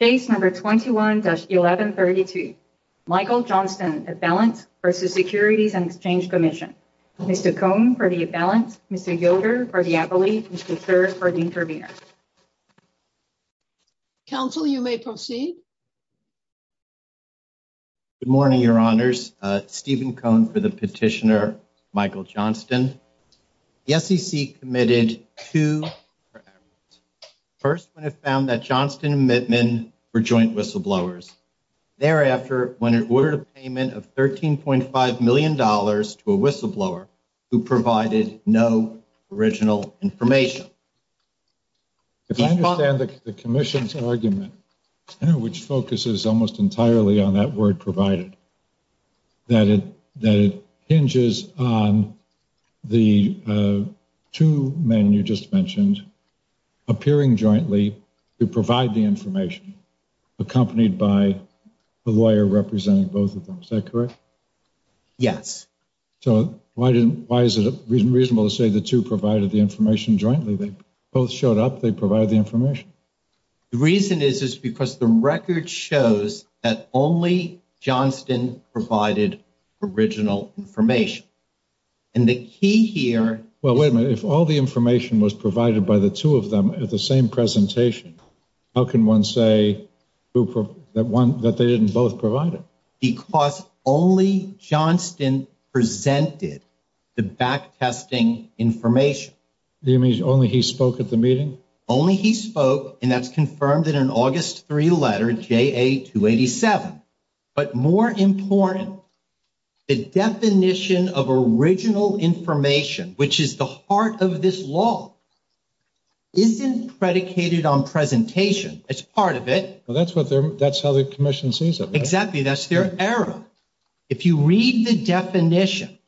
Case number 21-1132. Michael Johnston, Avalanche v. Securities and Exchange Commission. Mr. Cohn for the Avalanche, Mr. Yoder for the Avalanche, Mr. Thurr for the Intervenor. Counsel, you may proceed. Good morning, your honors. Stephen Cohn for the petitioner, Michael Johnston. The SEC committed to first when it found that Johnston and Mittman were joint whistleblowers. Thereafter, when it ordered a payment of $13.5 million to a whistleblower who provided no original information. If I understand the commission's argument, which focuses almost entirely on that word provided, that it hinges on the two men you just mentioned appearing jointly to provide the information accompanied by a lawyer representing both of them. Is that correct? Yes. So why is it reasonable to say the two provided the information jointly? They both showed up. They provided the information. The reason is because the record shows that only Johnston provided original information. And the key here... Well, wait a minute. If all the information was provided by the two of them at the same presentation, how can one say that they didn't both provide it? Because only Johnston presented the backtesting information. Only he spoke, and that's confirmed in an August 3 letter, JA-287. But more important, the definition of original information, which is the heart of this law, isn't predicated on presentation. It's part of it. Well, that's how the commission sees it. Exactly. That's their error. If you read the definition,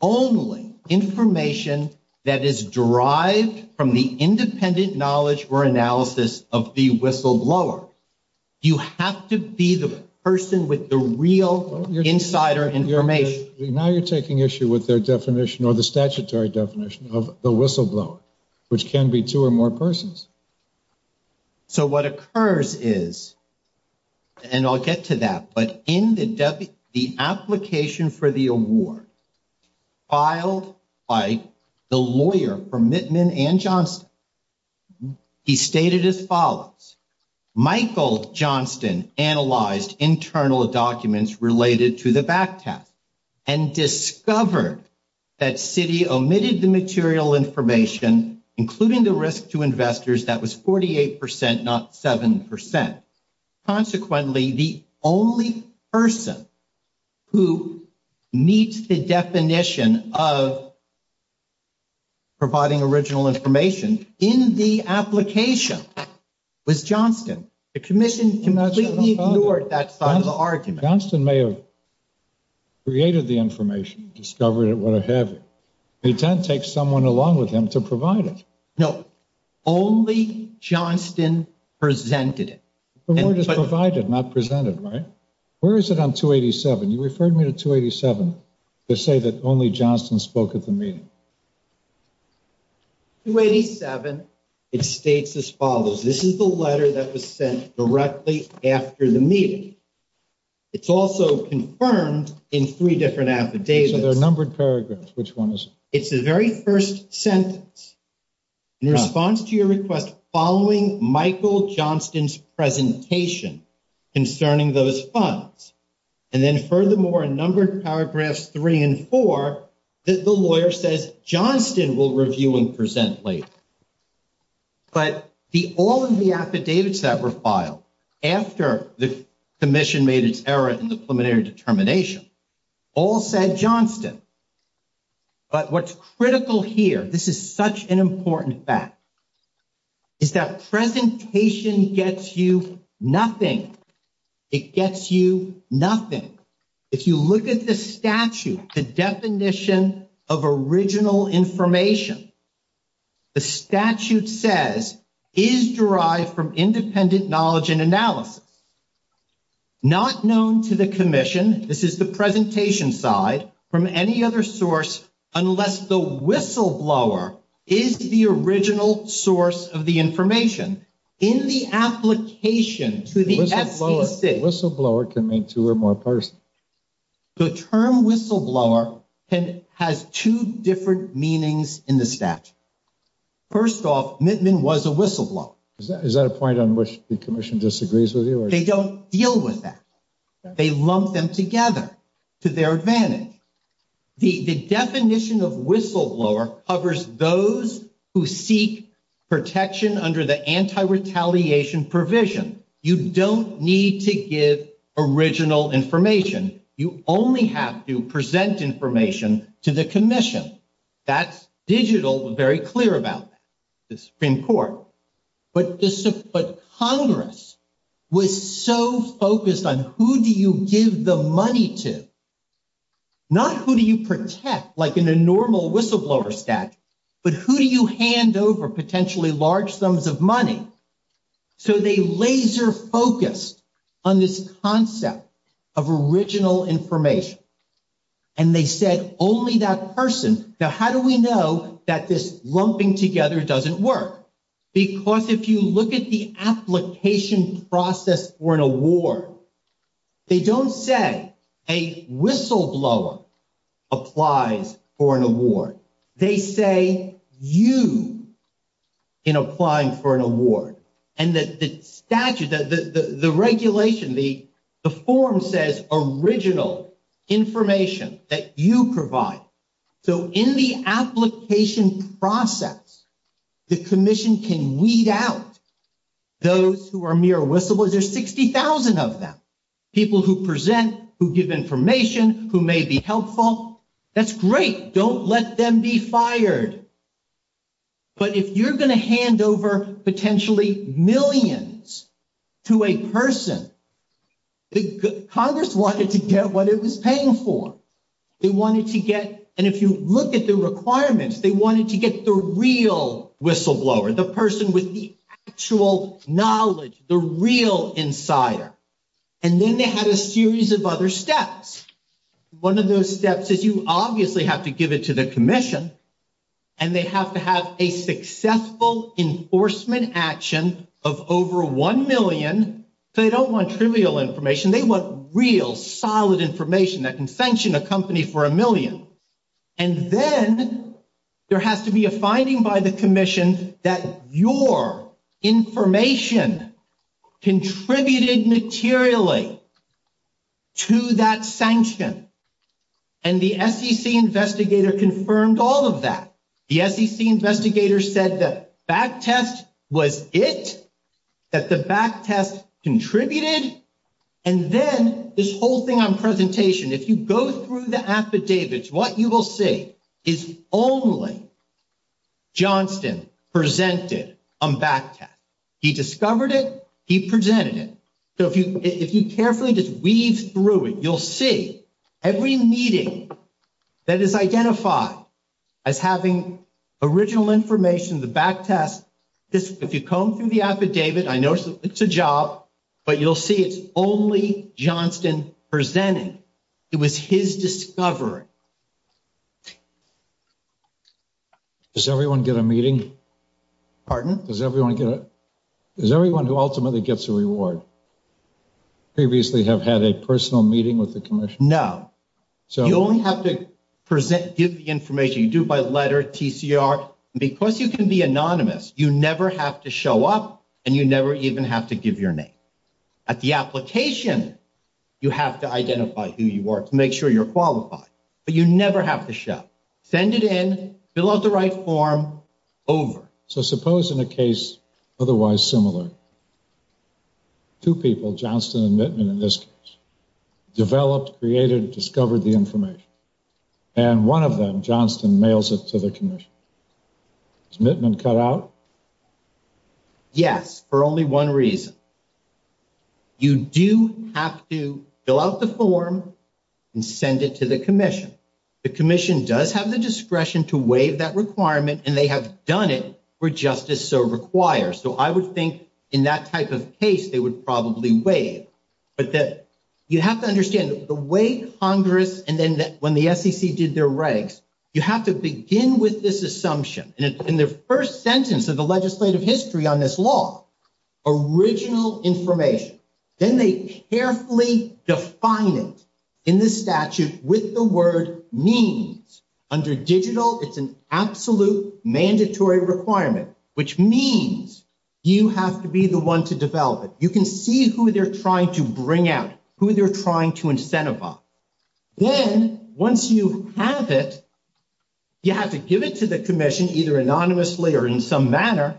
only information that is derived from the independent knowledge or analysis of the whistleblower, you have to be the person with the real insider information. Now you're taking issue with their definition or the statutory definition of the whistleblower, which can be two or more persons. So what occurs is, and I'll get to that, but in the application for the award, filed by the lawyer for Mittman and Johnston, he stated as follows, Michael Johnston analyzed internal documents related to the backtest and discovered that to investors that was 48%, not 7%. Consequently, the only person who meets the definition of providing original information in the application was Johnston. The commission completely ignored that side of the argument. Johnston may have created the information, discovered it, what have you. They tend to take someone along with them to provide it. No, only Johnston presented it. The word is provided, not presented, right? Where is it on 287? You referred me to 287 to say that only Johnston spoke at the meeting. 287, it states as follows. This is the letter that was sent directly after the meeting. It's also confirmed in three different affidavits. There are numbered paragraphs. Which one is it? It's the very first sentence in response to your request following Michael Johnston's presentation concerning those funds. And then furthermore, a number of paragraphs three and four that the lawyer says Johnston will review and present later. But all of the affidavits that were filed after the commission made its error in the critical here, this is such an important fact, is that presentation gets you nothing. It gets you nothing. If you look at the statute, the definition of original information, the statute says is derived from independent knowledge and analysis. Not known to the commission. This is the presentation side from any other source unless the whistleblower is the original source of the information. In the application to the SCC. Whistleblower can mean two or more persons. The term whistleblower has two different meanings in the statute. First off, Mittman was a whistleblower. Is that a point on which the commission disagrees with you? They don't deal with that. They lump them together to their advantage. The definition of whistleblower covers those who seek protection under the anti-retaliation provision. You don't need to give original information. You only have to present information to the commission. That's digital, very clear about the Supreme Court. Congress was so focused on who do you give the money to. Not who do you protect like in a normal whistleblower statute, but who do you hand over potentially large sums of money. They laser focused on this concept of original information. And they said only that person. Now, how do we know that this lumping together doesn't work? Because if you look at the application process for an award, they don't say a whistleblower applies for an award. They say you in applying for an award. And that the statute, the regulation, the form says original information that you provide. So in the application process, the commission can weed out those who are mere whistleblowers. There's 60,000 of them. People who present, who give information, who may be helpful. That's great. Don't let them be fired. But if you're going to hand over potentially millions to a person, Congress wanted to get what it was paying for. They wanted to get, and if you look at the requirements, they wanted to get the real whistleblower, the person with the actual knowledge, the real insider. And then they had a series of other steps. One of those steps is you obviously have to give it to the commission and they have to have a successful enforcement action of over 1 million. They don't want trivial information. They want real solid information that can sanction a company for a million. And then there has to be a finding by the commission that your information contributed materially to that sanction. And the SEC investigator confirmed all of that. The SEC investigator said that back test was it, that the back test contributed. And then this whole thing on presentation, if you go through the affidavits, what you will see is only Johnston presented on back test. He discovered it, he presented it. So if you carefully just weave through it, you'll see every meeting that is identified as having original information, the back test, if you comb through the affidavit, I know it's a job, but you'll see it's only Johnston presenting. It was his discovery. Does everyone get a meeting? Pardon? Does everyone get a, does everyone who ultimately gets a reward previously have had a personal meeting with the commission? No. You only have to present, give the information you do by letter, TCR. Because you can be anonymous, you never have to show up and you never even have to give your name. At the application, you have to identify who you are to make sure you're qualified, but you never have to show up. Send it in, fill out the right form, over. So suppose in a case otherwise similar, two people, Johnston and Mittman in this case, developed, created, discovered the information. And one of them, Johnston, mails it to the commission. Is Mittman cut out? Yes, for only one reason. You do have to fill out the form and send it to the commission. The commission does have the discretion to waive that requirement and they have done it where justice so requires. So I would think in that type of case, they would probably waive. But that you have to understand the way Congress, and then when the SEC did their regs, you have to begin with this assumption. And in the first sentence of the legislative history on this law, original information. Then they carefully define it in this statute with the word means. Under digital, it's an absolute mandatory requirement, which means you have to be the one to develop it. You can see who they're trying to bring out, who they're trying to incentivize. Then once you have it, you have to give it to the commission, either anonymously or in some manner.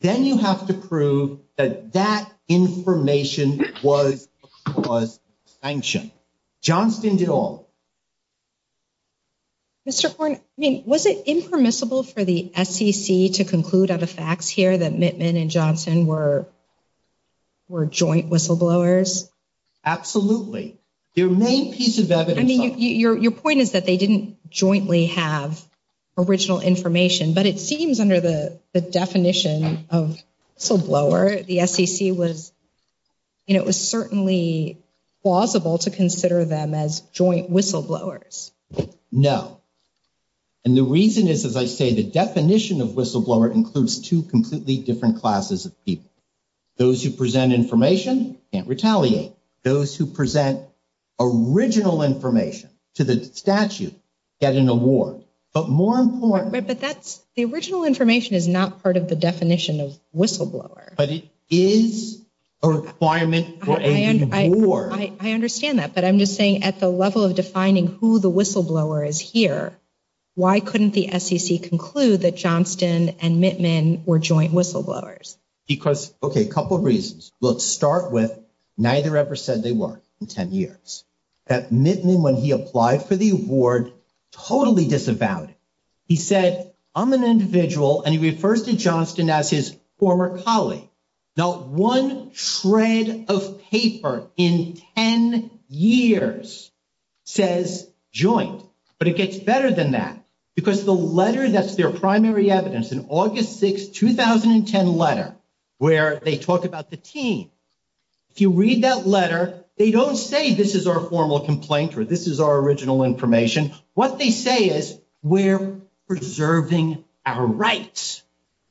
Then you have to prove that that information was sanctioned. Johnston did all. Mr. Horne, I mean, was it impermissible for the SEC to conclude out of facts here that Mittman and Johnston were joint whistleblowers? Absolutely. Your main piece of evidence. I mean, your point is that they didn't jointly have original information, but it seems under the definition of whistleblower, the SEC was, you know, it was certainly plausible to consider them as joint whistleblowers. No. And the reason is, as I say, the definition of whistleblower includes two completely different classes of people. Those who present information can't retaliate. Those who present original information to the statute get an award. But more important... But that's, the original information is not part of the definition of whistleblower. But it is a requirement for a reward. I understand that, but I'm just saying at the level of defining who the whistleblower is here, why couldn't the Because, okay, a couple of reasons. Let's start with, neither ever said they were in 10 years. That Mittman, when he applied for the award, totally disavowed it. He said, I'm an individual, and he refers to Johnston as his former colleague. Not one shred of paper in 10 years says joint. But it gets better than that, because the letter that's their primary evidence, an August 6th, 2010 letter, where they talk about the team. If you read that letter, they don't say this is our formal complaint, or this is our original information. What they say is, we're preserving our rights,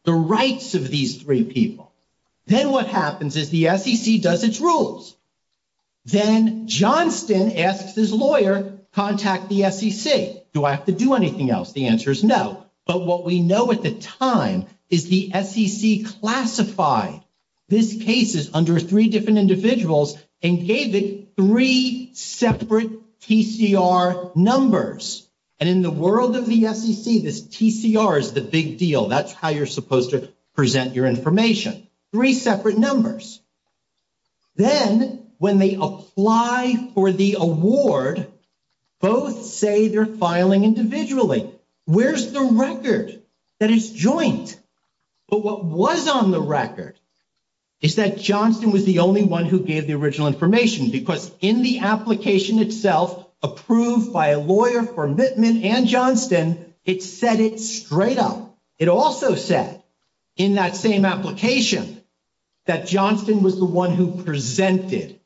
the rights of these three people. Then what happens is the SEC does its rules. Then Johnston asks his lawyer, contact the SEC. Do I have to do anything else? The answer is no. But what we know at the time is the SEC classified these cases under three different individuals and gave it three separate TCR numbers. And in the world of the SEC, this TCR is the big deal. That's how you're supposed to present your information, three separate numbers. Then when they apply for the award, both say they're filing individually. Where's the record? That it's joint. But what was on the record is that Johnston was the only one who gave the original information, because in the application itself, approved by a lawyer for omitment and Johnston, it set it straight up. It also said in that same application that Johnston was the one who presented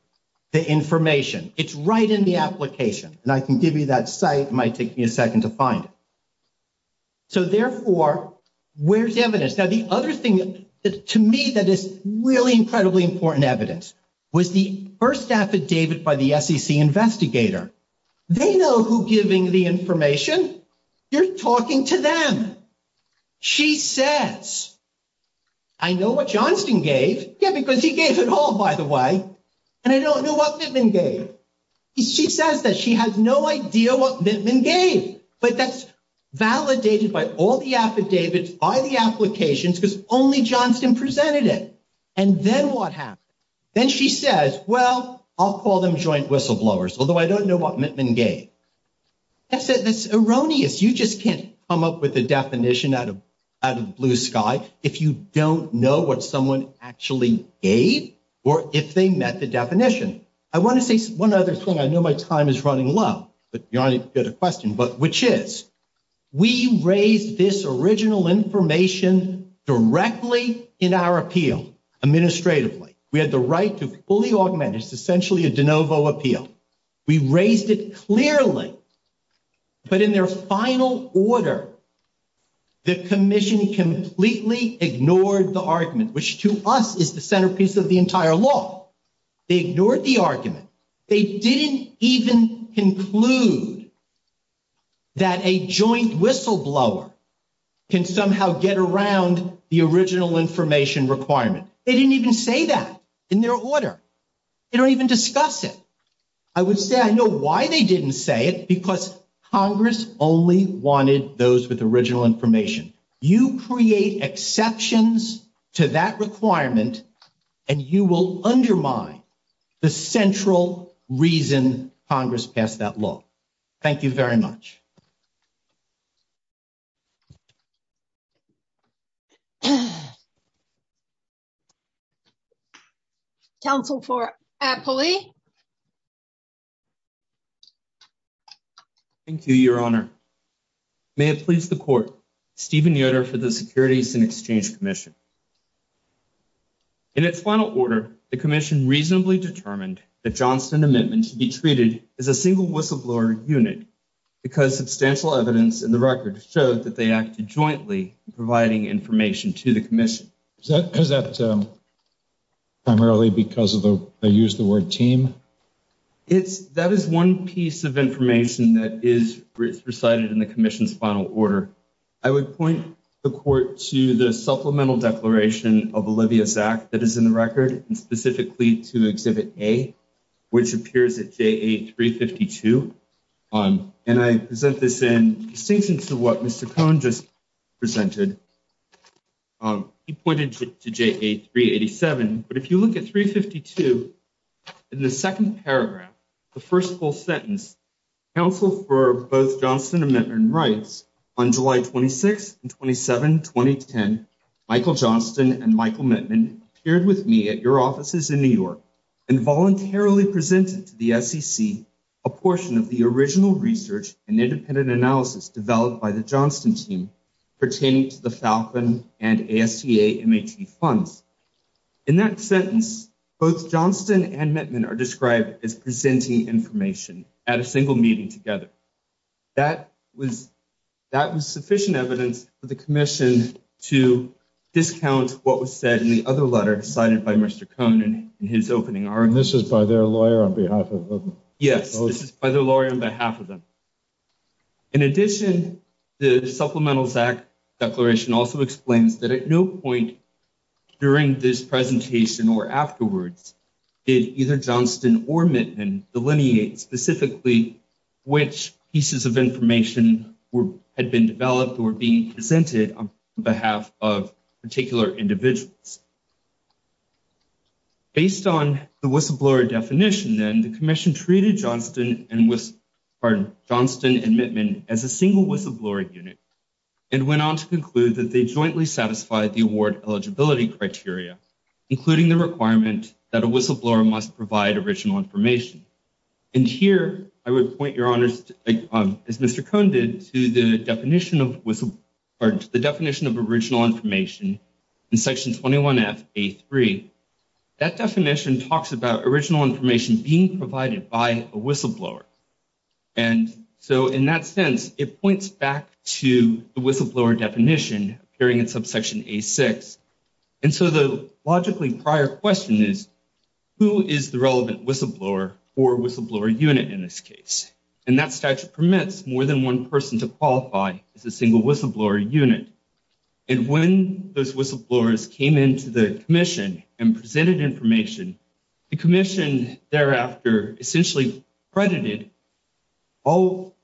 the information. It's right in the application. And I can give you that site. It might take me a second to find it. So therefore, where's the evidence? Now, the other thing, to me, that is really incredibly important evidence was the first affidavit by the SEC investigator. They know who's giving the information. You're talking to them. She says, I know what Johnston gave. Yeah, because he gave it all, by the way. And I don't know what Mittman gave. She says that she has no idea what Mittman gave. But that's validated by all the affidavits, by the applications, because only Johnston presented it. And then what happened? Then she says, well, I'll call them joint whistleblowers, although I don't know what Mittman gave. That's erroneous. You just can't come up with a definition out of the blue sky if you don't know what someone actually gave or if they met the definition. I want to say one other thing. I know my time is running low, but you're only going to get a question, but which is we raised this original information directly in our appeal, administratively. We had the right to fully augment. It's essentially a de novo appeal. We raised it clearly, but in their final order, the commission completely ignored the argument, which to us is the centerpiece of entire law. They ignored the argument. They didn't even conclude that a joint whistleblower can somehow get around the original information requirement. They didn't even say that in their order. They don't even discuss it. I would say I know why they didn't say it, because Congress only wanted those with original information. You create exceptions to that requirement, and you will undermine the central reason Congress passed that law. Thank you very much. Thank you, Your Honor. May it please the court, Stephen Yoder for the Securities and Exchange Commission. In its final order, the commission reasonably determined that Johnston Amendment to be treated as a single whistleblower unit because substantial evidence in the record showed that they acted jointly in providing information to the commission. Is that because that primarily because of the use of the word team? That is one piece of information that is recited in the commission's final order. I would point the court to the supplemental declaration of Olivia Zak that is in the record, and specifically to Exhibit A, which appears at JA 352. I present this in distinction to what Mr. Cohn just presented. He pointed to JA 387, but if you look at 352, in the second paragraph, the first full sentence, counsel for both Johnston Amendment writes, on July 26 and 27, 2010, Michael Johnston and Michael Mittman appeared with me at your offices in New York and voluntarily presented to the SEC a portion of the original research and independent analysis developed by the Johnston team pertaining to the Falcon and ASTA MAT funds. In that sentence, both Johnston and Mittman are single meeting together. That was sufficient evidence for the commission to discount what was said in the other letter cited by Mr. Cohn in his opening argument. This is by their lawyer on behalf of them? Yes, this is by their lawyer on behalf of them. In addition, the Supplemental Zak Declaration also explains that at no point during this presentation or afterwards did either which pieces of information had been developed or being presented on behalf of particular individuals. Based on the whistleblower definition, then, the commission treated Johnston and Mittman as a single whistleblower unit and went on to conclude that they jointly satisfied the award eligibility criteria, including the requirement that a whistleblower must provide original information. And here, I would point your honors, as Mr. Cohn did, to the definition of whistle, or the definition of original information in Section 21F, A3. That definition talks about original information being provided by a whistleblower. And so, in that sense, it points back to the whistleblower definition appearing in Subsection A6. And so, the logically prior question is, who is the relevant whistleblower or whistleblower unit in this case? And that statute permits more than one person to qualify as a single whistleblower unit. And when those whistleblowers came into the commission and presented information, the commission thereafter essentially credited all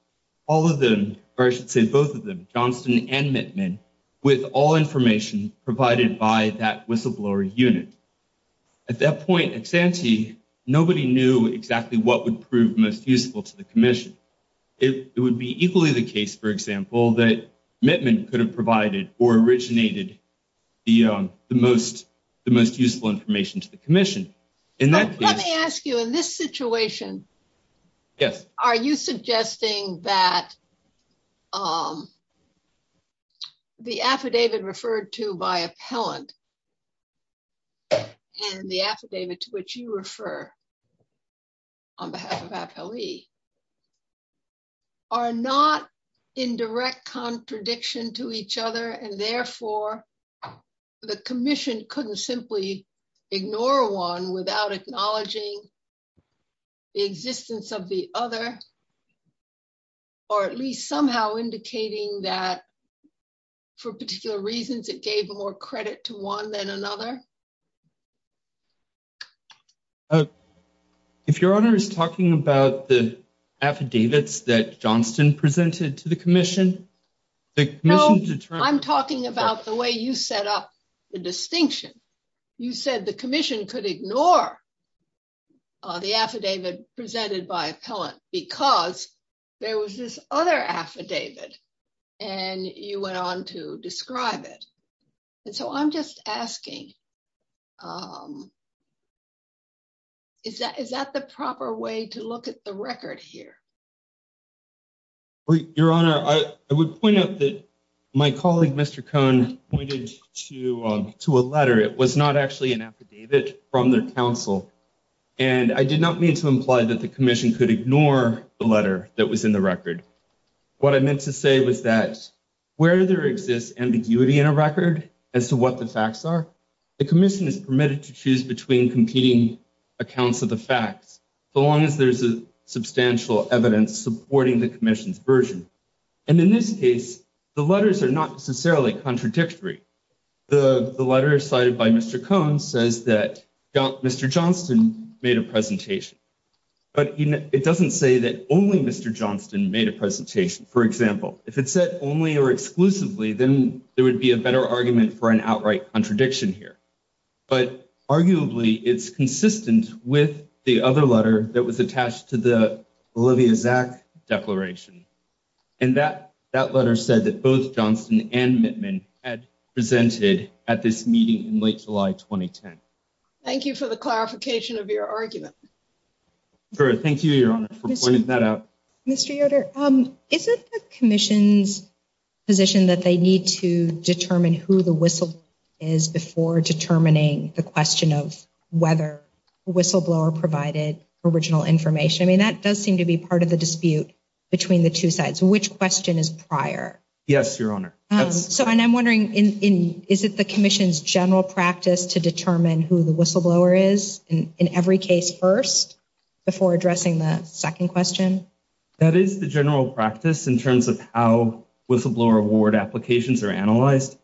of them, or I should say both of them, Johnston and Mittman, with all At that point, ex ante, nobody knew exactly what would prove most useful to the commission. It would be equally the case, for example, that Mittman could have provided or originated the most useful information to the commission. Let me ask you, in this situation, are you suggesting that the affidavit referred to by appellant and the affidavit to which you refer on behalf of appellee are not in direct contradiction to each other, and therefore, the commission couldn't simply ignore one without acknowledging the existence of the other, or at least somehow indicating that, for particular reasons, it gave more credit to one than another? If your honor is talking about the affidavits that Johnston presented to the commission, No, I'm talking about the way you set up the distinction. You said the commission could ignore the affidavit presented by appellant because there was this other affidavit, and you went on to describe it. And so I'm just asking, is that the proper way to look at the record here? Well, your honor, I would point out that my colleague, Mr. Cohn, pointed to a letter. It was not actually an affidavit from their counsel, and I did not mean to imply that the commission could ignore the letter that was in the record. What I meant to say was that where there exists ambiguity in a record as to what the facts are, the commission is permitted to choose between competing accounts of the facts, so long as there's a substantial evidence supporting the commission's version. And in this case, the letters are not necessarily contradictory. The letter cited by Mr. Cohn says that Mr. Johnston made a presentation, but it doesn't say that only Mr. Johnston made a presentation. For example, if it said only or exclusively, then there would be a better argument for an outright contradiction here. But arguably, it's consistent with the other letter that was attached to the Olivia Zak declaration. And that letter said that both Johnston and Mittman had presented at this meeting in late July 2010. Thank you for the clarification of your argument. Thank you, your honor, for pointing that out. Mr. Yoder, is it the commission's position that they need to determine who the whistleblower is before determining the question of whether whistleblower provided original information? I mean, that does seem to be part of the dispute between the two sides. Which question is prior? Yes, your honor. So, and I'm wondering, is it the commission's general practice to determine who the whistleblower is in every case first before addressing the second question? That is the general practice in terms of how whistleblower award applications are analyzed.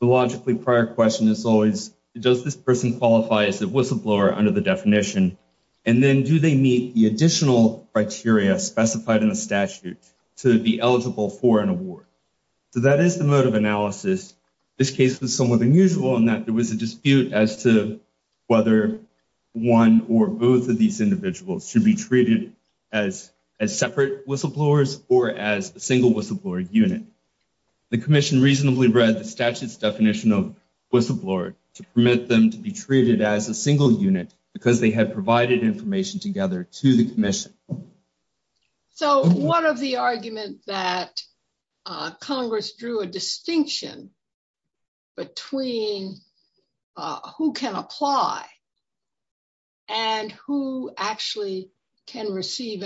The logically prior question is always, does this person qualify as a whistleblower under the definition? And then do they meet the additional criteria specified in the statute to be eligible for an award? So that is the mode of analysis. This case was somewhat unusual in that there was a dispute as to whether one or both of these the commission reasonably read the statute's definition of whistleblower to permit them to be treated as a single unit because they had provided information together to the commission. So one of the arguments that Congress drew a distinction between who can apply and who can receive.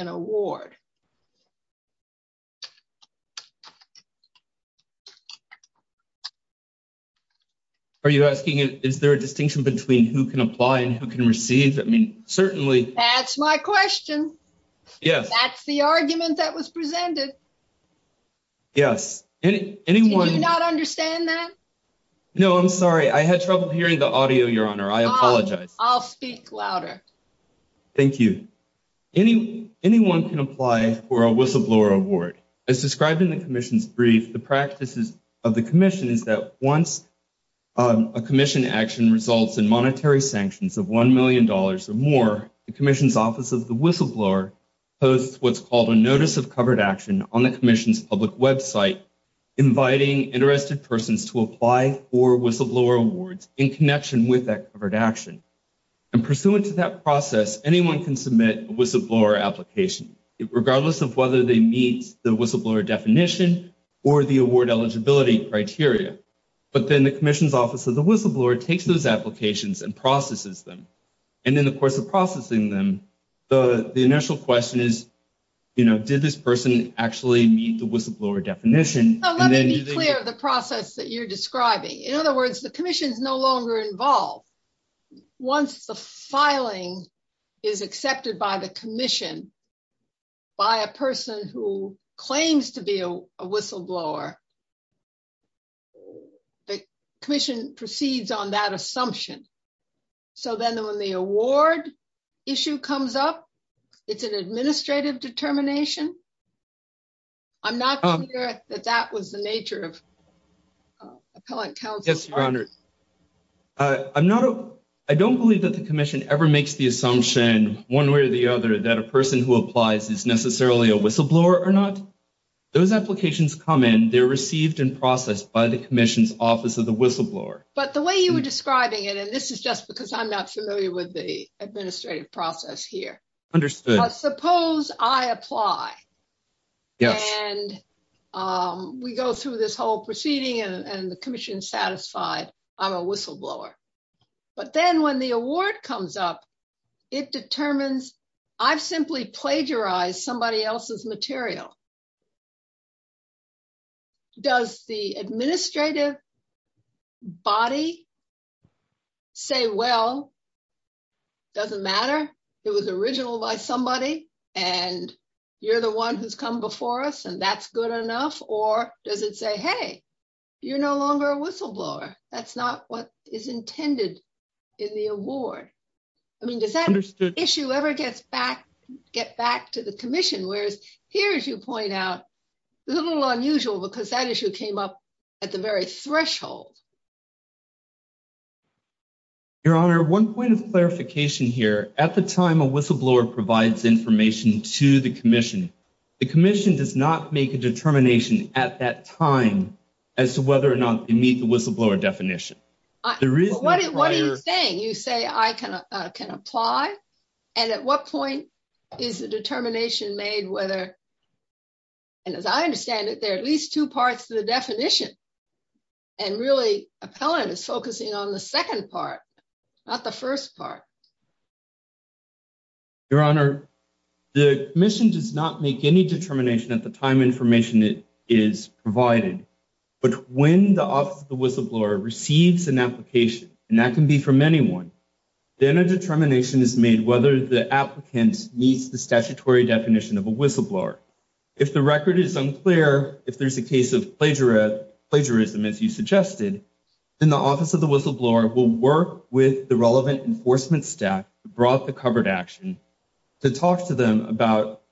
Are you asking is there a distinction between who can apply and who can receive? I mean, certainly. That's my question. Yes. That's the argument that was presented. Yes. Anyone not understand that? No, I'm sorry. I had trouble hearing the audio, your honor. I apologize. I'll speak louder. Thank you. Anyone can apply for a whistleblower award as described in the commission's brief. The practices of the commission is that once a commission action results in monetary sanctions of $1 million or more, the commission's office of the whistleblower posts what's called a notice of covered action on the commission's public website, inviting interested persons to apply for whistleblower awards in connection with that covered action. And pursuant to that process, anyone can submit a whistleblower application regardless of whether they meet the whistleblower definition or the award eligibility criteria. But then the commission's office of the whistleblower takes those applications and processes them. And then the course of processing them, the initial question is, did this person actually meet the whistleblower definition? Let me be clear of the process that you're describing. In other words, the commission is no longer involved. Once the filing is accepted by the person who claims to be a whistleblower, the commission proceeds on that assumption. So then when the award issue comes up, it's an administrative determination. I'm not clear that that was the nature of appellate counsel. Yes, your honor. I don't believe that the commission ever makes the assumption one way or the other that a person who applies is necessarily a whistleblower or not. Those applications come in, they're received and processed by the commission's office of the whistleblower. But the way you were describing it, and this is just because I'm not familiar with the administrative process here. Understood. Suppose I apply. Yes. And we go through this whole proceeding and the commission is satisfied I'm a whistleblower. But then when the award comes up, it determines I've simply plagiarized somebody else's material. Does the administrative body say, well, it doesn't matter. It was original by somebody and you're the one who's come before us and that's good enough. Or does it say, hey, you're no longer a whistleblower. That's not what is intended in the award. I mean, does that issue ever get back to the commission? Whereas here, as you point out, a little unusual because that issue came up at the very threshold. Your honor, one point of clarification here, at the time a whistleblower provides information to the commission, the commission does not make a determination at that time as to whether or not they meet the whistleblower definition. What are you saying? You say I can apply. And at what point is the determination made whether, and as I understand it, there are at least two parts to the definition. And really appellant is focusing on the second part, not the first part. Your honor, the commission does not make any determination at the time information is provided. But when the office of the whistleblower receives an application, and that can be from anyone, then a determination is made whether the applicant meets the statutory definition of a whistleblower. If the record is unclear, if there's a case of plagiarism, as you suggested, then the office of the whistleblower will work with the relevant enforcement staff who brought the covered action to talk to them about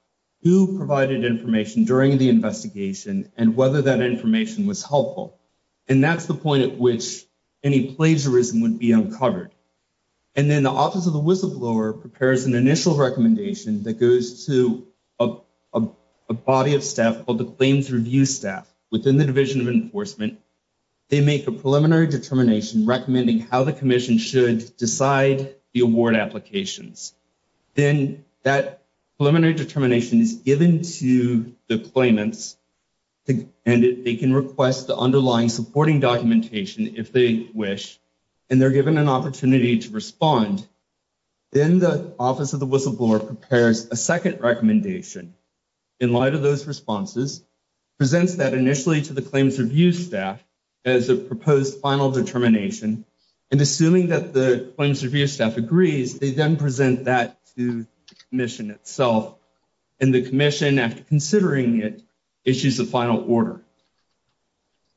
who provided information during the investigation and whether that information was helpful. And that's the point at which any plagiarism would be uncovered. And then the office of the whistleblower prepares an initial recommendation that goes to a body of staff called the claims review staff within the Division of Enforcement. They make a preliminary determination recommending how the commission should decide the award applications. Then that preliminary determination is given to the claimants, and they can request the underlying supporting documentation if they wish, and they're given an opportunity to respond. Then the office of the whistleblower prepares a second recommendation in light of those responses, presents that initially to the claims review staff as a proposed final determination, and assuming that the claims review staff agrees, they then present that to the commission itself. And the commission, after considering it, issues a final order.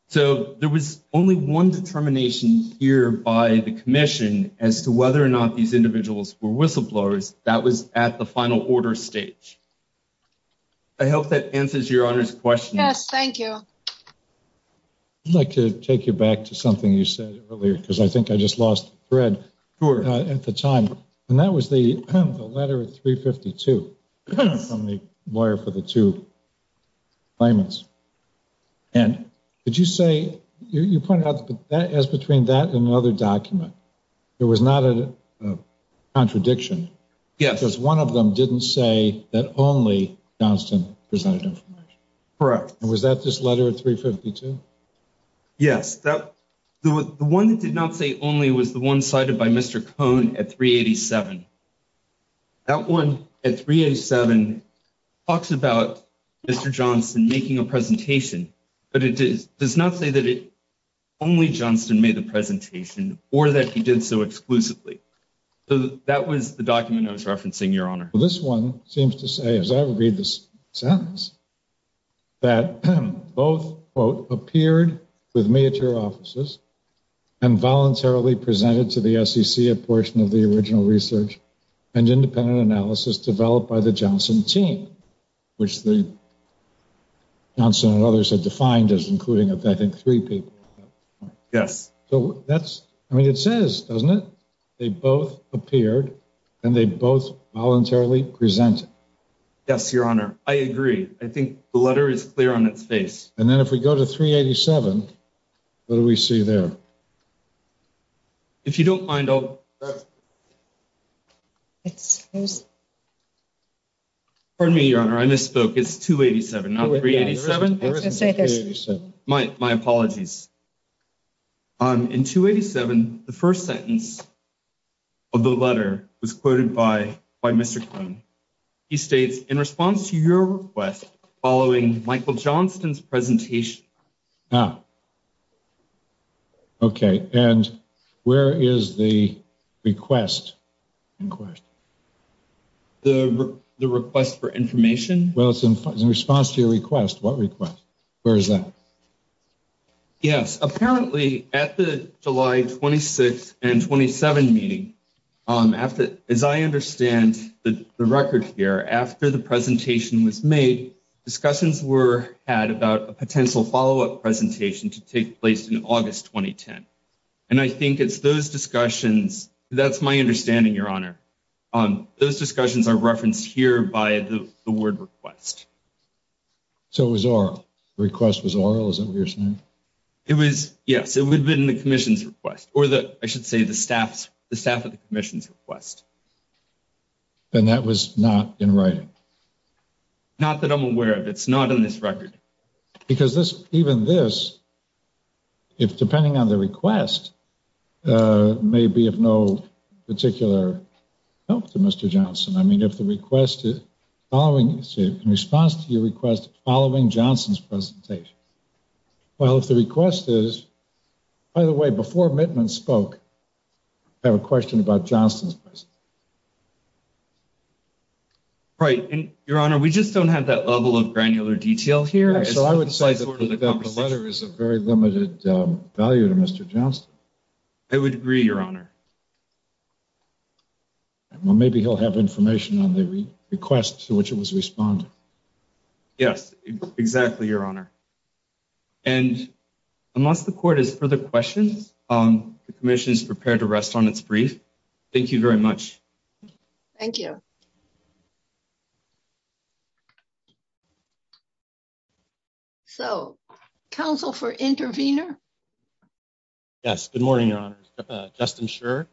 So there was only one determination here by the commission as to whether or not these individuals were whistleblowers. That was at the final order stage. I hope that answers your honor's question. Yes, thank you. I'd like to take you back to something you said earlier, because I think I just lost the thread at the time. And that was the letter of 352 from the lawyer for the two claimants. And did you say, you pointed out that as between that and another document, there was not a contradiction? Yes. Because one of them didn't say that only Johnston presented information. Correct. And was that this letter at 352? Yes. The one that did not say only was the one cited by Mr. Cohn at 387. That one at 387 talks about Mr. Johnston making a presentation, but it does not say that only Johnston made the presentation, or that he did so exclusively. So that was the document I was referencing, your honor. This one seems to say, as I read this sentence, that both, quote, appeared with me at your offices and voluntarily presented to the SEC a portion of the original research and independent analysis developed by the Johnston team, which the Johnston and others defined as including, I think, three people. Yes. So that's, I mean, it says, doesn't it? They both appeared and they both voluntarily presented. Yes, your honor. I agree. I think the letter is clear on its face. And then if we go to 387, what do we see there? If you don't mind, I'll... Pardon me, your honor. I misspoke. It's 287, not 387. My apologies. In 287, the first sentence of the letter was quoted by Mr. Cohn. He states, in response to your request, following Michael Johnston's presentation... Okay. And where is the request? The request for information? Well, it's in response to your request. What request? Where is that? Yes. Apparently, at the July 26th and 27th meeting, as I understand the record here, after the presentation was made, discussions were had about a potential follow-up presentation to take place in August, 2010. And I think it's those discussions, that's my understanding, your honor. Those discussions are referenced here by the word request. So it was oral? The request was oral, is that what you're saying? It was, yes. It would have been in the commission's request or the, I should say, the staff of the commission's request. And that was not in writing? Not that I'm aware of. It's not in this record. Because this, even this, if depending on the help to Mr. Johnston, I mean, if the request is following, in response to your request, following Johnston's presentation. Well, if the request is, by the way, before Mittman spoke, I have a question about Johnston's presentation. Right. And your honor, we just don't have that level of granular detail here. So I would say that the letter is of very limited value to Mr. Johnston. I would agree, your honor. Well, maybe he'll have information on the request to which it was responded. Yes, exactly, your honor. And unless the court has further questions, the commission is prepared to rest on its brief. Thank you very much. Thank you. So, counsel for intervener? Yes, good morning, your honor. Justin Scherr,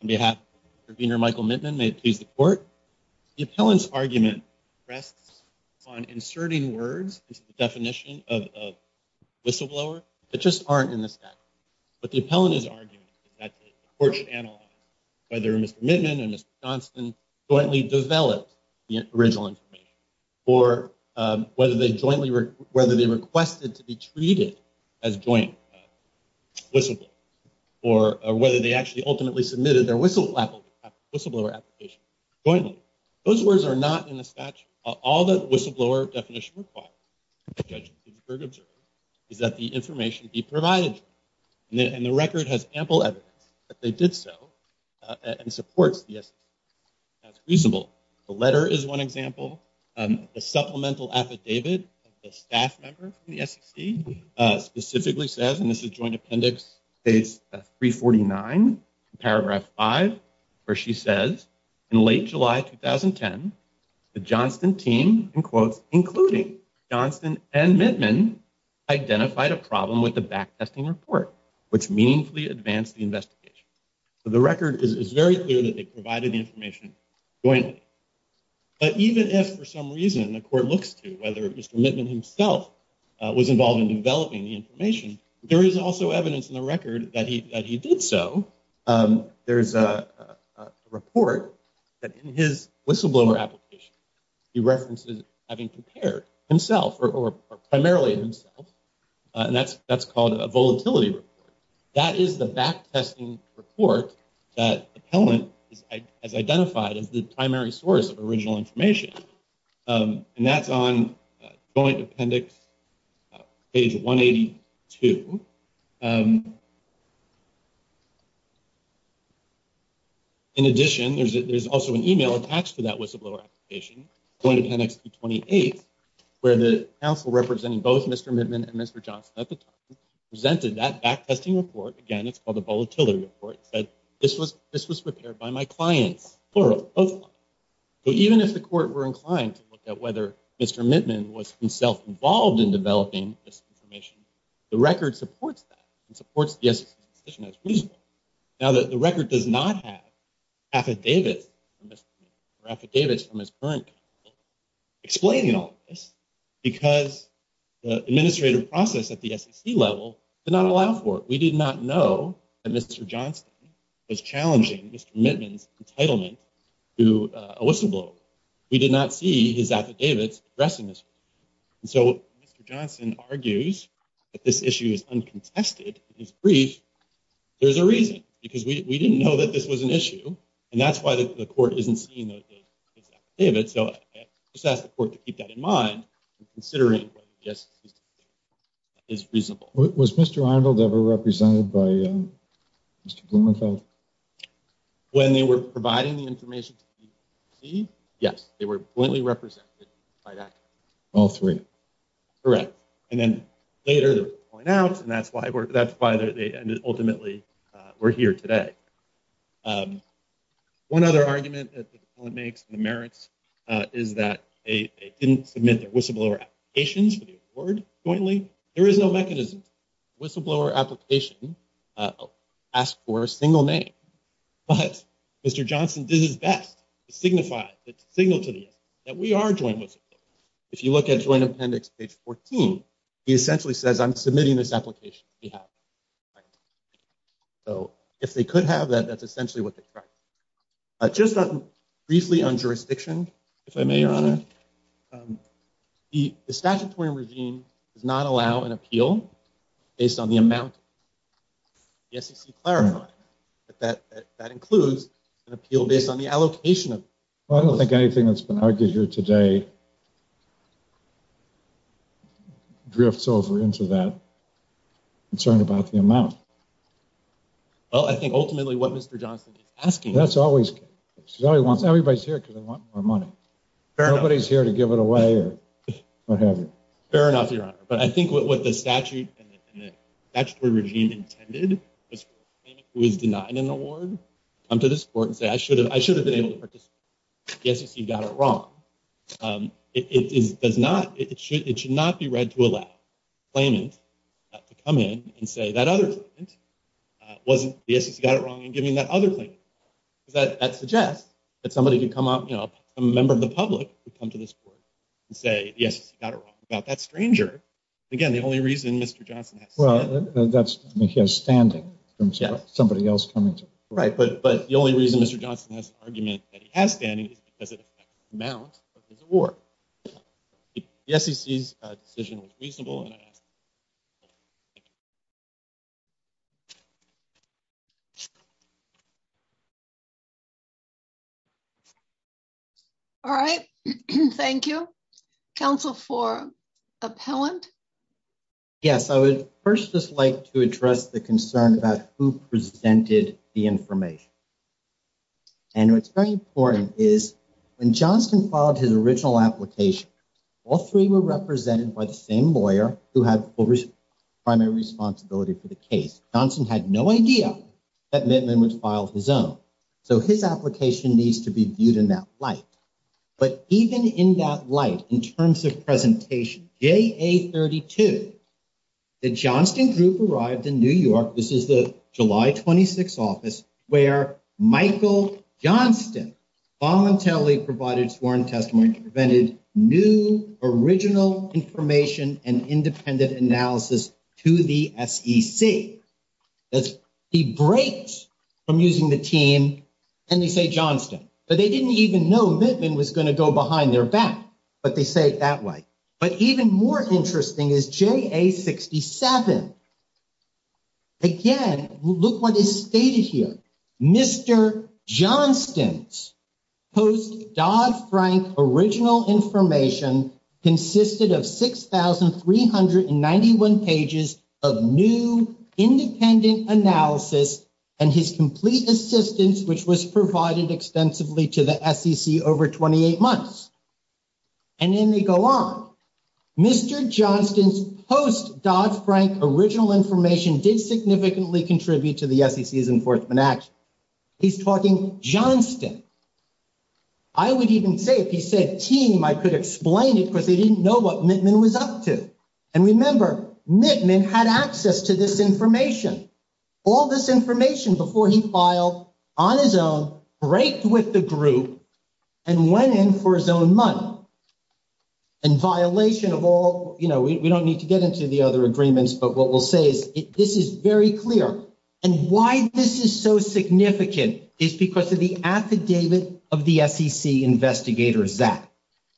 on behalf of intervener Michael Mittman, may it please the court. The appellant's argument rests on inserting words into the definition of whistleblower that just aren't in the statute. But the appellant is arguing that the court should analyze whether Mr. Mittman and Mr. Johnston jointly developed the original information, or whether they jointly requested to be treated as joint whistleblowers, or whether they actually ultimately submitted their whistleblower application jointly. Those words are not in the statute. All the whistleblower definition requires, the judge observed, is that the information be provided. And the record has ample evidence that they did so, and supports the example. The supplemental affidavit of the staff member from the SEC specifically says, and this is joint appendix 349, paragraph 5, where she says, in late July 2010, the Johnston team, in quotes, including Johnston and Mittman, identified a problem with the backtesting report, which meaningfully advanced the investigation. So, the record is very clear that they provided the information jointly. But even if, for some reason, the court looks to whether Mr. Mittman himself was involved in developing the information, there is also evidence in the record that he did so. There's a report that in his whistleblower application, he references having prepared himself, or primarily himself, and that's called a volatility report. That is the backtesting report that the appellant has identified as the primary source of original information. And that's on joint appendix page 182. In addition, there's also an email attached to that whistleblower application, joint appendix 228, where the counsel representing both Mr. Mittman and Mr. Johnston at the time presented that backtesting report. Again, it's called a volatility report. It said, this was prepared by my clients, plural, both clients. So, even if the court were inclined to look at whether Mr. Mittman was himself involved in developing this information, the record supports that and supports the SEC's decision as reasonable. Now, the record does not have affidavits from Mr. Mittman or affidavits from his current counsel explaining all of this because the administrative process at the SEC level did not allow for it. We did not know that Mr. Johnston was challenging Mr. Mittman's entitlement to a whistleblower. We did not see his affidavits addressing this. And so, Mr. Johnston argues that this issue is uncontested in his brief. There's a reason because we didn't know that this was an issue, and that's why the court to keep that in mind in considering whether the SEC's decision is reasonable. Was Mr. Arnold ever represented by Mr. Blumenfeld? When they were providing the information to the SEC, yes, they were pointly represented by that. All three? Correct. And then later, they were pulled out, and that's why they ultimately were here today. One other argument that the appellant makes in the merits is that they didn't submit their whistleblower applications for the award jointly. There is no mechanism. Whistleblower application asks for a single name, but Mr. Johnston did his best to signify, to signal to the SEC that we are joint whistleblowers. If you look at Joint Appendix page 14, he essentially says, I'm essentially what they tried. Just briefly on jurisdiction, if I may, Your Honor. The statutory regime does not allow an appeal based on the amount the SEC clarified. That includes an appeal based on the allocation of- I don't think anything that's been argued here today is wrong. Well, I think ultimately what Mr. Johnston is asking- That's always- Everybody's here because they want more money. Fair enough. Nobody's here to give it away or what have you. Fair enough, Your Honor. But I think what the statute and the statutory regime intended was for a claimant who was denied an award to come to this court and say, I should have been able to participate. The SEC got it wrong. It should not be read to allow a claimant to come in and say that other claimant wasn't- The SEC got it wrong in giving that other claimant. That suggests that somebody could come up, a member of the public would come to this court and say, yes, you got it wrong about that stranger. Again, the only reason Mr. Johnston has- Well, that's standing in terms of somebody else coming to- Right. But the only reason Mr. Johnston has an argument that he has standing is because of the amount of his award. The SEC's decision was reasonable, and I ask you to- All right. Thank you. Counsel for appellant? Yes. I would first just like to address the concern about who presented the information. And what's very important is when Johnston filed his original application, all three were represented by the same lawyer who had primary responsibility for the case. Johnston had no idea that Mittman would file his own. So his application needs to be viewed in that light. But even in that light, in terms of presentation, JA32, the Johnston group arrived in New York. This is the July 26th office where Michael Johnston voluntarily provided sworn testimony and presented new original information and independent analysis to the SEC. He breaks from using the team and they say Johnston, but they didn't even know Mittman was going to go behind their back, but they say it that way. But even more interesting is JA67. Again, look what is stated here. Mr. Johnston's post-Dodd-Frank original information consisted of 6,391 pages of new independent analysis and his complete assistance, which was provided extensively to the SEC over 28 months. And then they go on. Mr. Johnston's post-Dodd-Frank original information did significantly contribute to the SEC's enforcement action. He's talking Johnston. I would even say if he said team, I could explain it because they didn't know what Mittman was up to. And remember, Mittman had access to this information. All this information before he filed on his own, break with the group and went in for his own money. And violation of all, you know, we don't need to get into the other agreements, but what we'll say is this is very clear. And why this is so significant is because of the affidavit of the SEC investigator, Zach.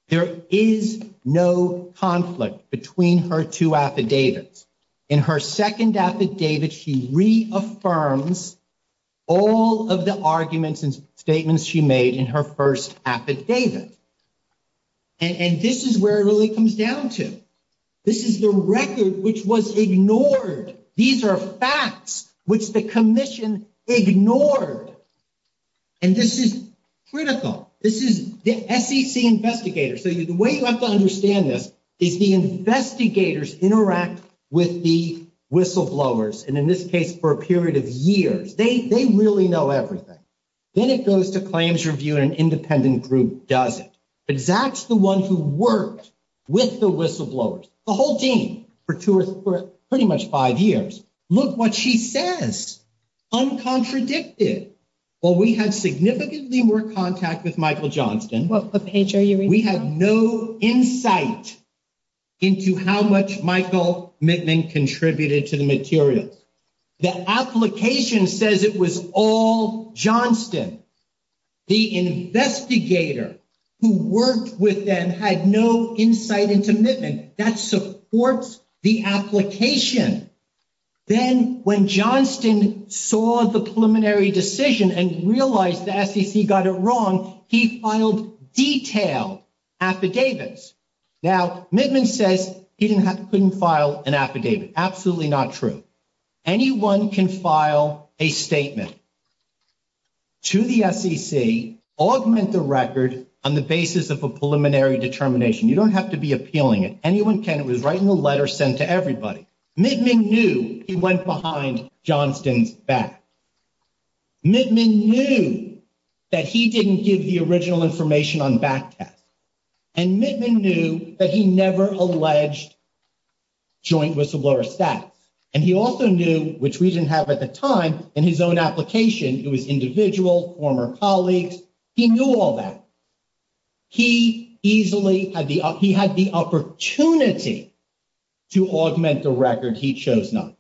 There is no conflict between her two affidavits. In her second affidavit, she reaffirms all of the arguments and statements she made in her first affidavit. And this is where it really comes down to. This is the record which was ignored. These are facts which the commission ignored. And this is critical. This is the SEC investigator. So the way you have to understand this is the investigators interact with the whistleblowers. And in this case, for a period of years, they really know everything. Then it goes to claims review and an independent group does it. But Zach's the one who worked with the whistleblowers, the whole team, for pretty much five years. Look what she says. Uncontradicted. Well, we had significantly more contact with Michael Johnston. We had no insight into how much Michael contributed to the materials. The application says it was all Johnston. The investigator who worked with them had no insight into Mittman. That supports the application. Then when Johnston saw the preliminary decision and realized the SEC got it wrong, he filed detailed affidavits. Now, Mittman says he couldn't file an affidavit. Absolutely not true. Anyone can file a statement to the SEC, augment the record on the basis of a preliminary determination. You don't have to be appealing it. Anyone can. It was right in the letter sent to everybody. Mittman knew he went behind Johnston's back. Mittman knew that he didn't give the information on back tests. And Mittman knew that he never alleged joint whistleblower status. And he also knew, which we didn't have at the time, in his own application, it was individual, former colleagues. He knew all that. He easily had the opportunity to augment the record he chose to file.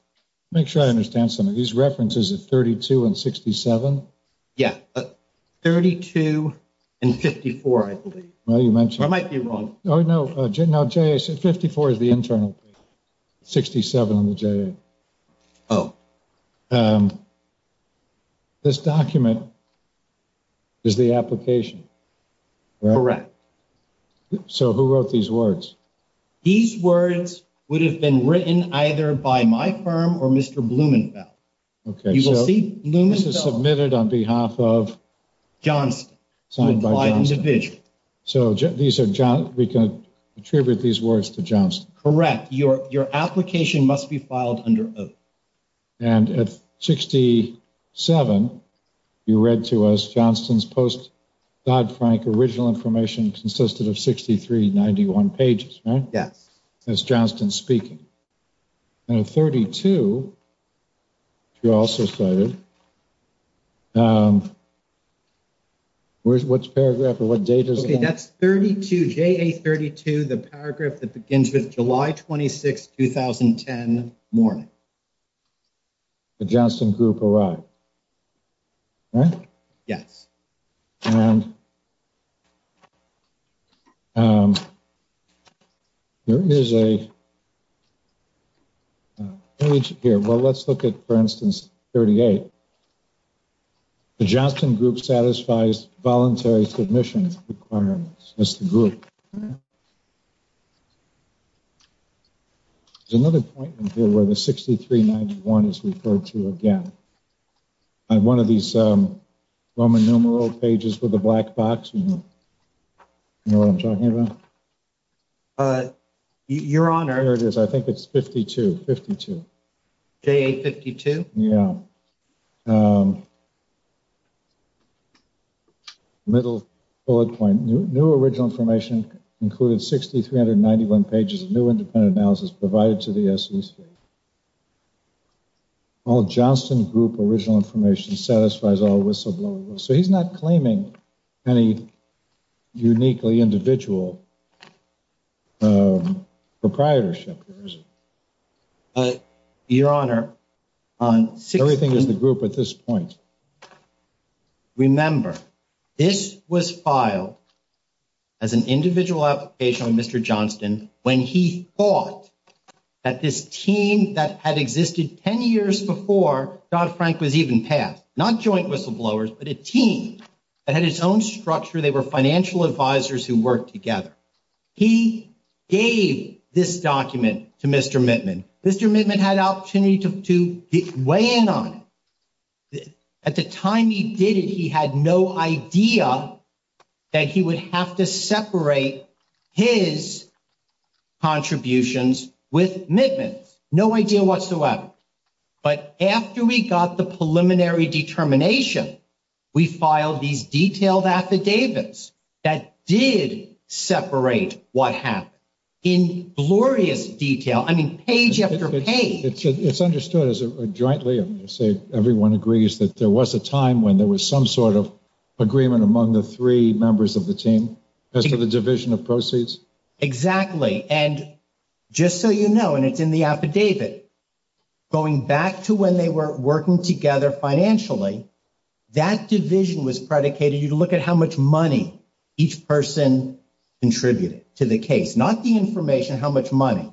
Who wrote these words? These words would have been written either by firm or Mr. Blumenfeld. Okay, so this is submitted on behalf of Johnston. So these are, we can attribute these words to Johnston. Correct. Your application must be filed under oath. And at 67, you read to us Johnston's post-Dodd-Frank original information consisted of 63, 91 pages, right? Yes. That's Johnston speaking. And at 32, you also cited, which paragraph or what date is that? That's 32, JA 32, the paragraph that begins with July 26, 2010 morning. The Johnston group arrived, right? Yes. And there is a page here. Well, let's look at, for instance, 38. The Johnston group satisfies voluntary submissions requirements. That's the group. There's another point in here where the 63, 91 is referred to again. On one of these Roman numeral pages with the black box, you know what I'm talking about? Your honor. There it is. I think it's 52, 52. JA 52? Yeah. Middle bullet point. New original information included 6,391 pages of new independent analysis provided to the SEC. All Johnston group original information satisfies all whistleblowers. So, he's not claiming any uniquely individual proprietorship. Your honor. Everything is the group at this point. Remember, this was filed as an individual application of Mr. Johnston when he thought that this team that had existed 10 years before Dodd-Frank was even passed, not joint whistleblowers, but a team that had its own structure. They were financial advisors who worked together. He gave this document to Mr. Mittman. Mr. Mittman had opportunity to weigh in on it. At the time he did it, he had no idea that he would have to separate his contributions with Mittman. No idea whatsoever. But after we got the preliminary determination, we filed these detailed affidavits that did separate what happened in glorious detail. I mean, page after page. It's understood as a jointly, I'm going to say everyone agrees that there was a time when there was some sort of agreement among the three members of the team as to the division of proceeds. Exactly. And just so you know, and it's in the affidavit, going back to when they were working together financially, that division was predicated. You look at how much money each person contributed to the case, not the information, how much money.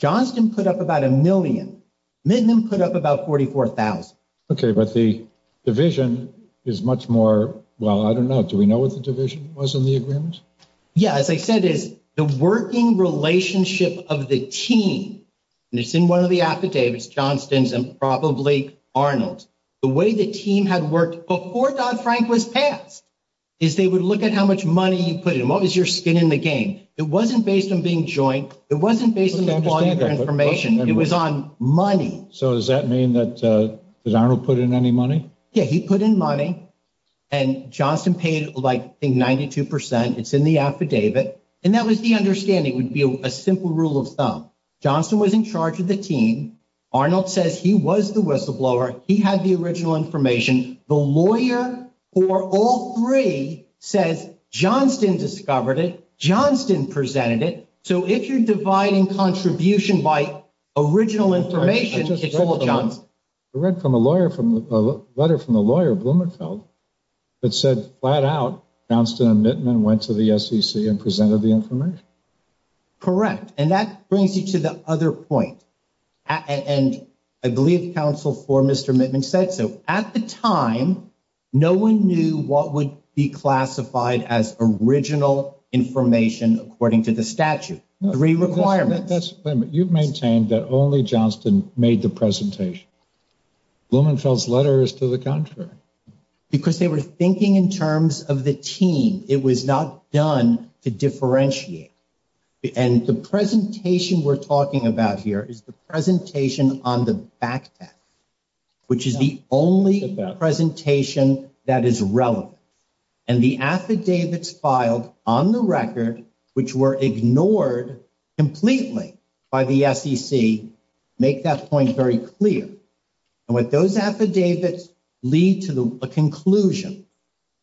Johnston put up about a million. Mittman put up about 44,000. Okay. But the division is much more, well, I don't know. Do we know what the division was in the agreement? Yeah. As I said, it's the working relationship of the team. And it's in one of the affidavits, Johnston's and probably Arnold. The way the team had worked before Dodd-Frank was passed is they would look at how much money you put in. What was your skin in the game? It wasn't based on being joint. It wasn't based on the volume of information. It was on money. So does that mean that Arnold put in any money? Yeah, he put in money and Johnston paid like, I think, 92%. It's in the affidavit. And that was the understanding would be a simple rule of thumb. Johnston was in charge of the team. Arnold says he was the whistleblower. He had the original information. The lawyer for all three says Johnston discovered it, Johnston presented it. So if you're dividing contribution by original information, it's all Johnston. I read a letter from the lawyer, Blumenfeld, that said flat out Johnston and Mittman went to the SEC and presented the information. Correct. And that brings you to the other point. And I believe counsel for Mr. Mittman said so. At the time, no one knew what would be classified as a statute. Three requirements. You've maintained that only Johnston made the presentation. Blumenfeld's letter is to the contrary. Because they were thinking in terms of the team. It was not done to differentiate. And the presentation we're talking about here is the presentation on the back deck, which is the only presentation that is relevant. And the affidavits filed on the back deck are the only affidavits filed on the back deck. So the fact that Johnston was ignored completely by the SEC, make that point very clear. And what those affidavits lead to a conclusion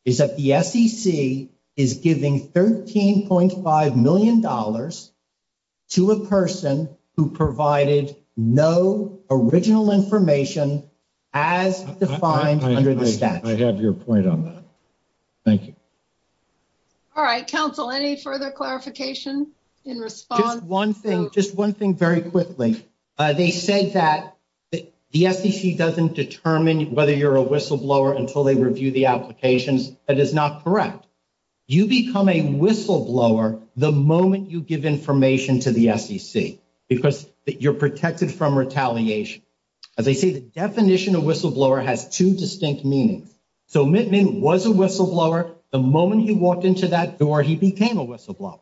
is that the SEC is giving $13.5 million to a person who provided no original information as defined under the statute. I have your point on that. Thank you. All right, counsel, any further clarification in response? Just one thing. Just one thing very quickly. They said that the SEC doesn't determine whether you're a whistleblower until they review the applications. That is not correct. You become a whistleblower the moment you give information to the SEC. Because you're protected from retaliation. As I say, the definition of whistleblower has two distinct meanings. So Mittman was a whistleblower the moment he walked into that door, he became a whistleblower.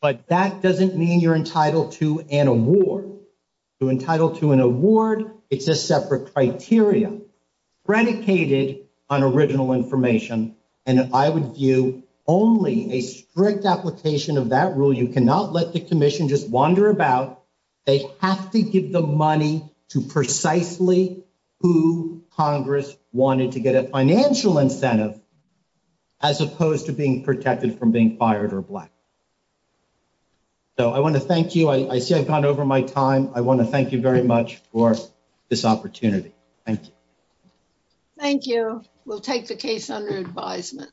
But that doesn't mean you're entitled to an award. To entitled to an award, it's a separate criteria predicated on original information. And I would view only a strict application of that rule. You cannot let the commission just wander about. They have to give the money to precisely who Congress wanted to get a financial incentive as opposed to being protected from being fired or black. So I want to thank you. I see I've gone over my time. I want to thank you very much for this opportunity. Thank you. Thank you. We'll take the case under advisement.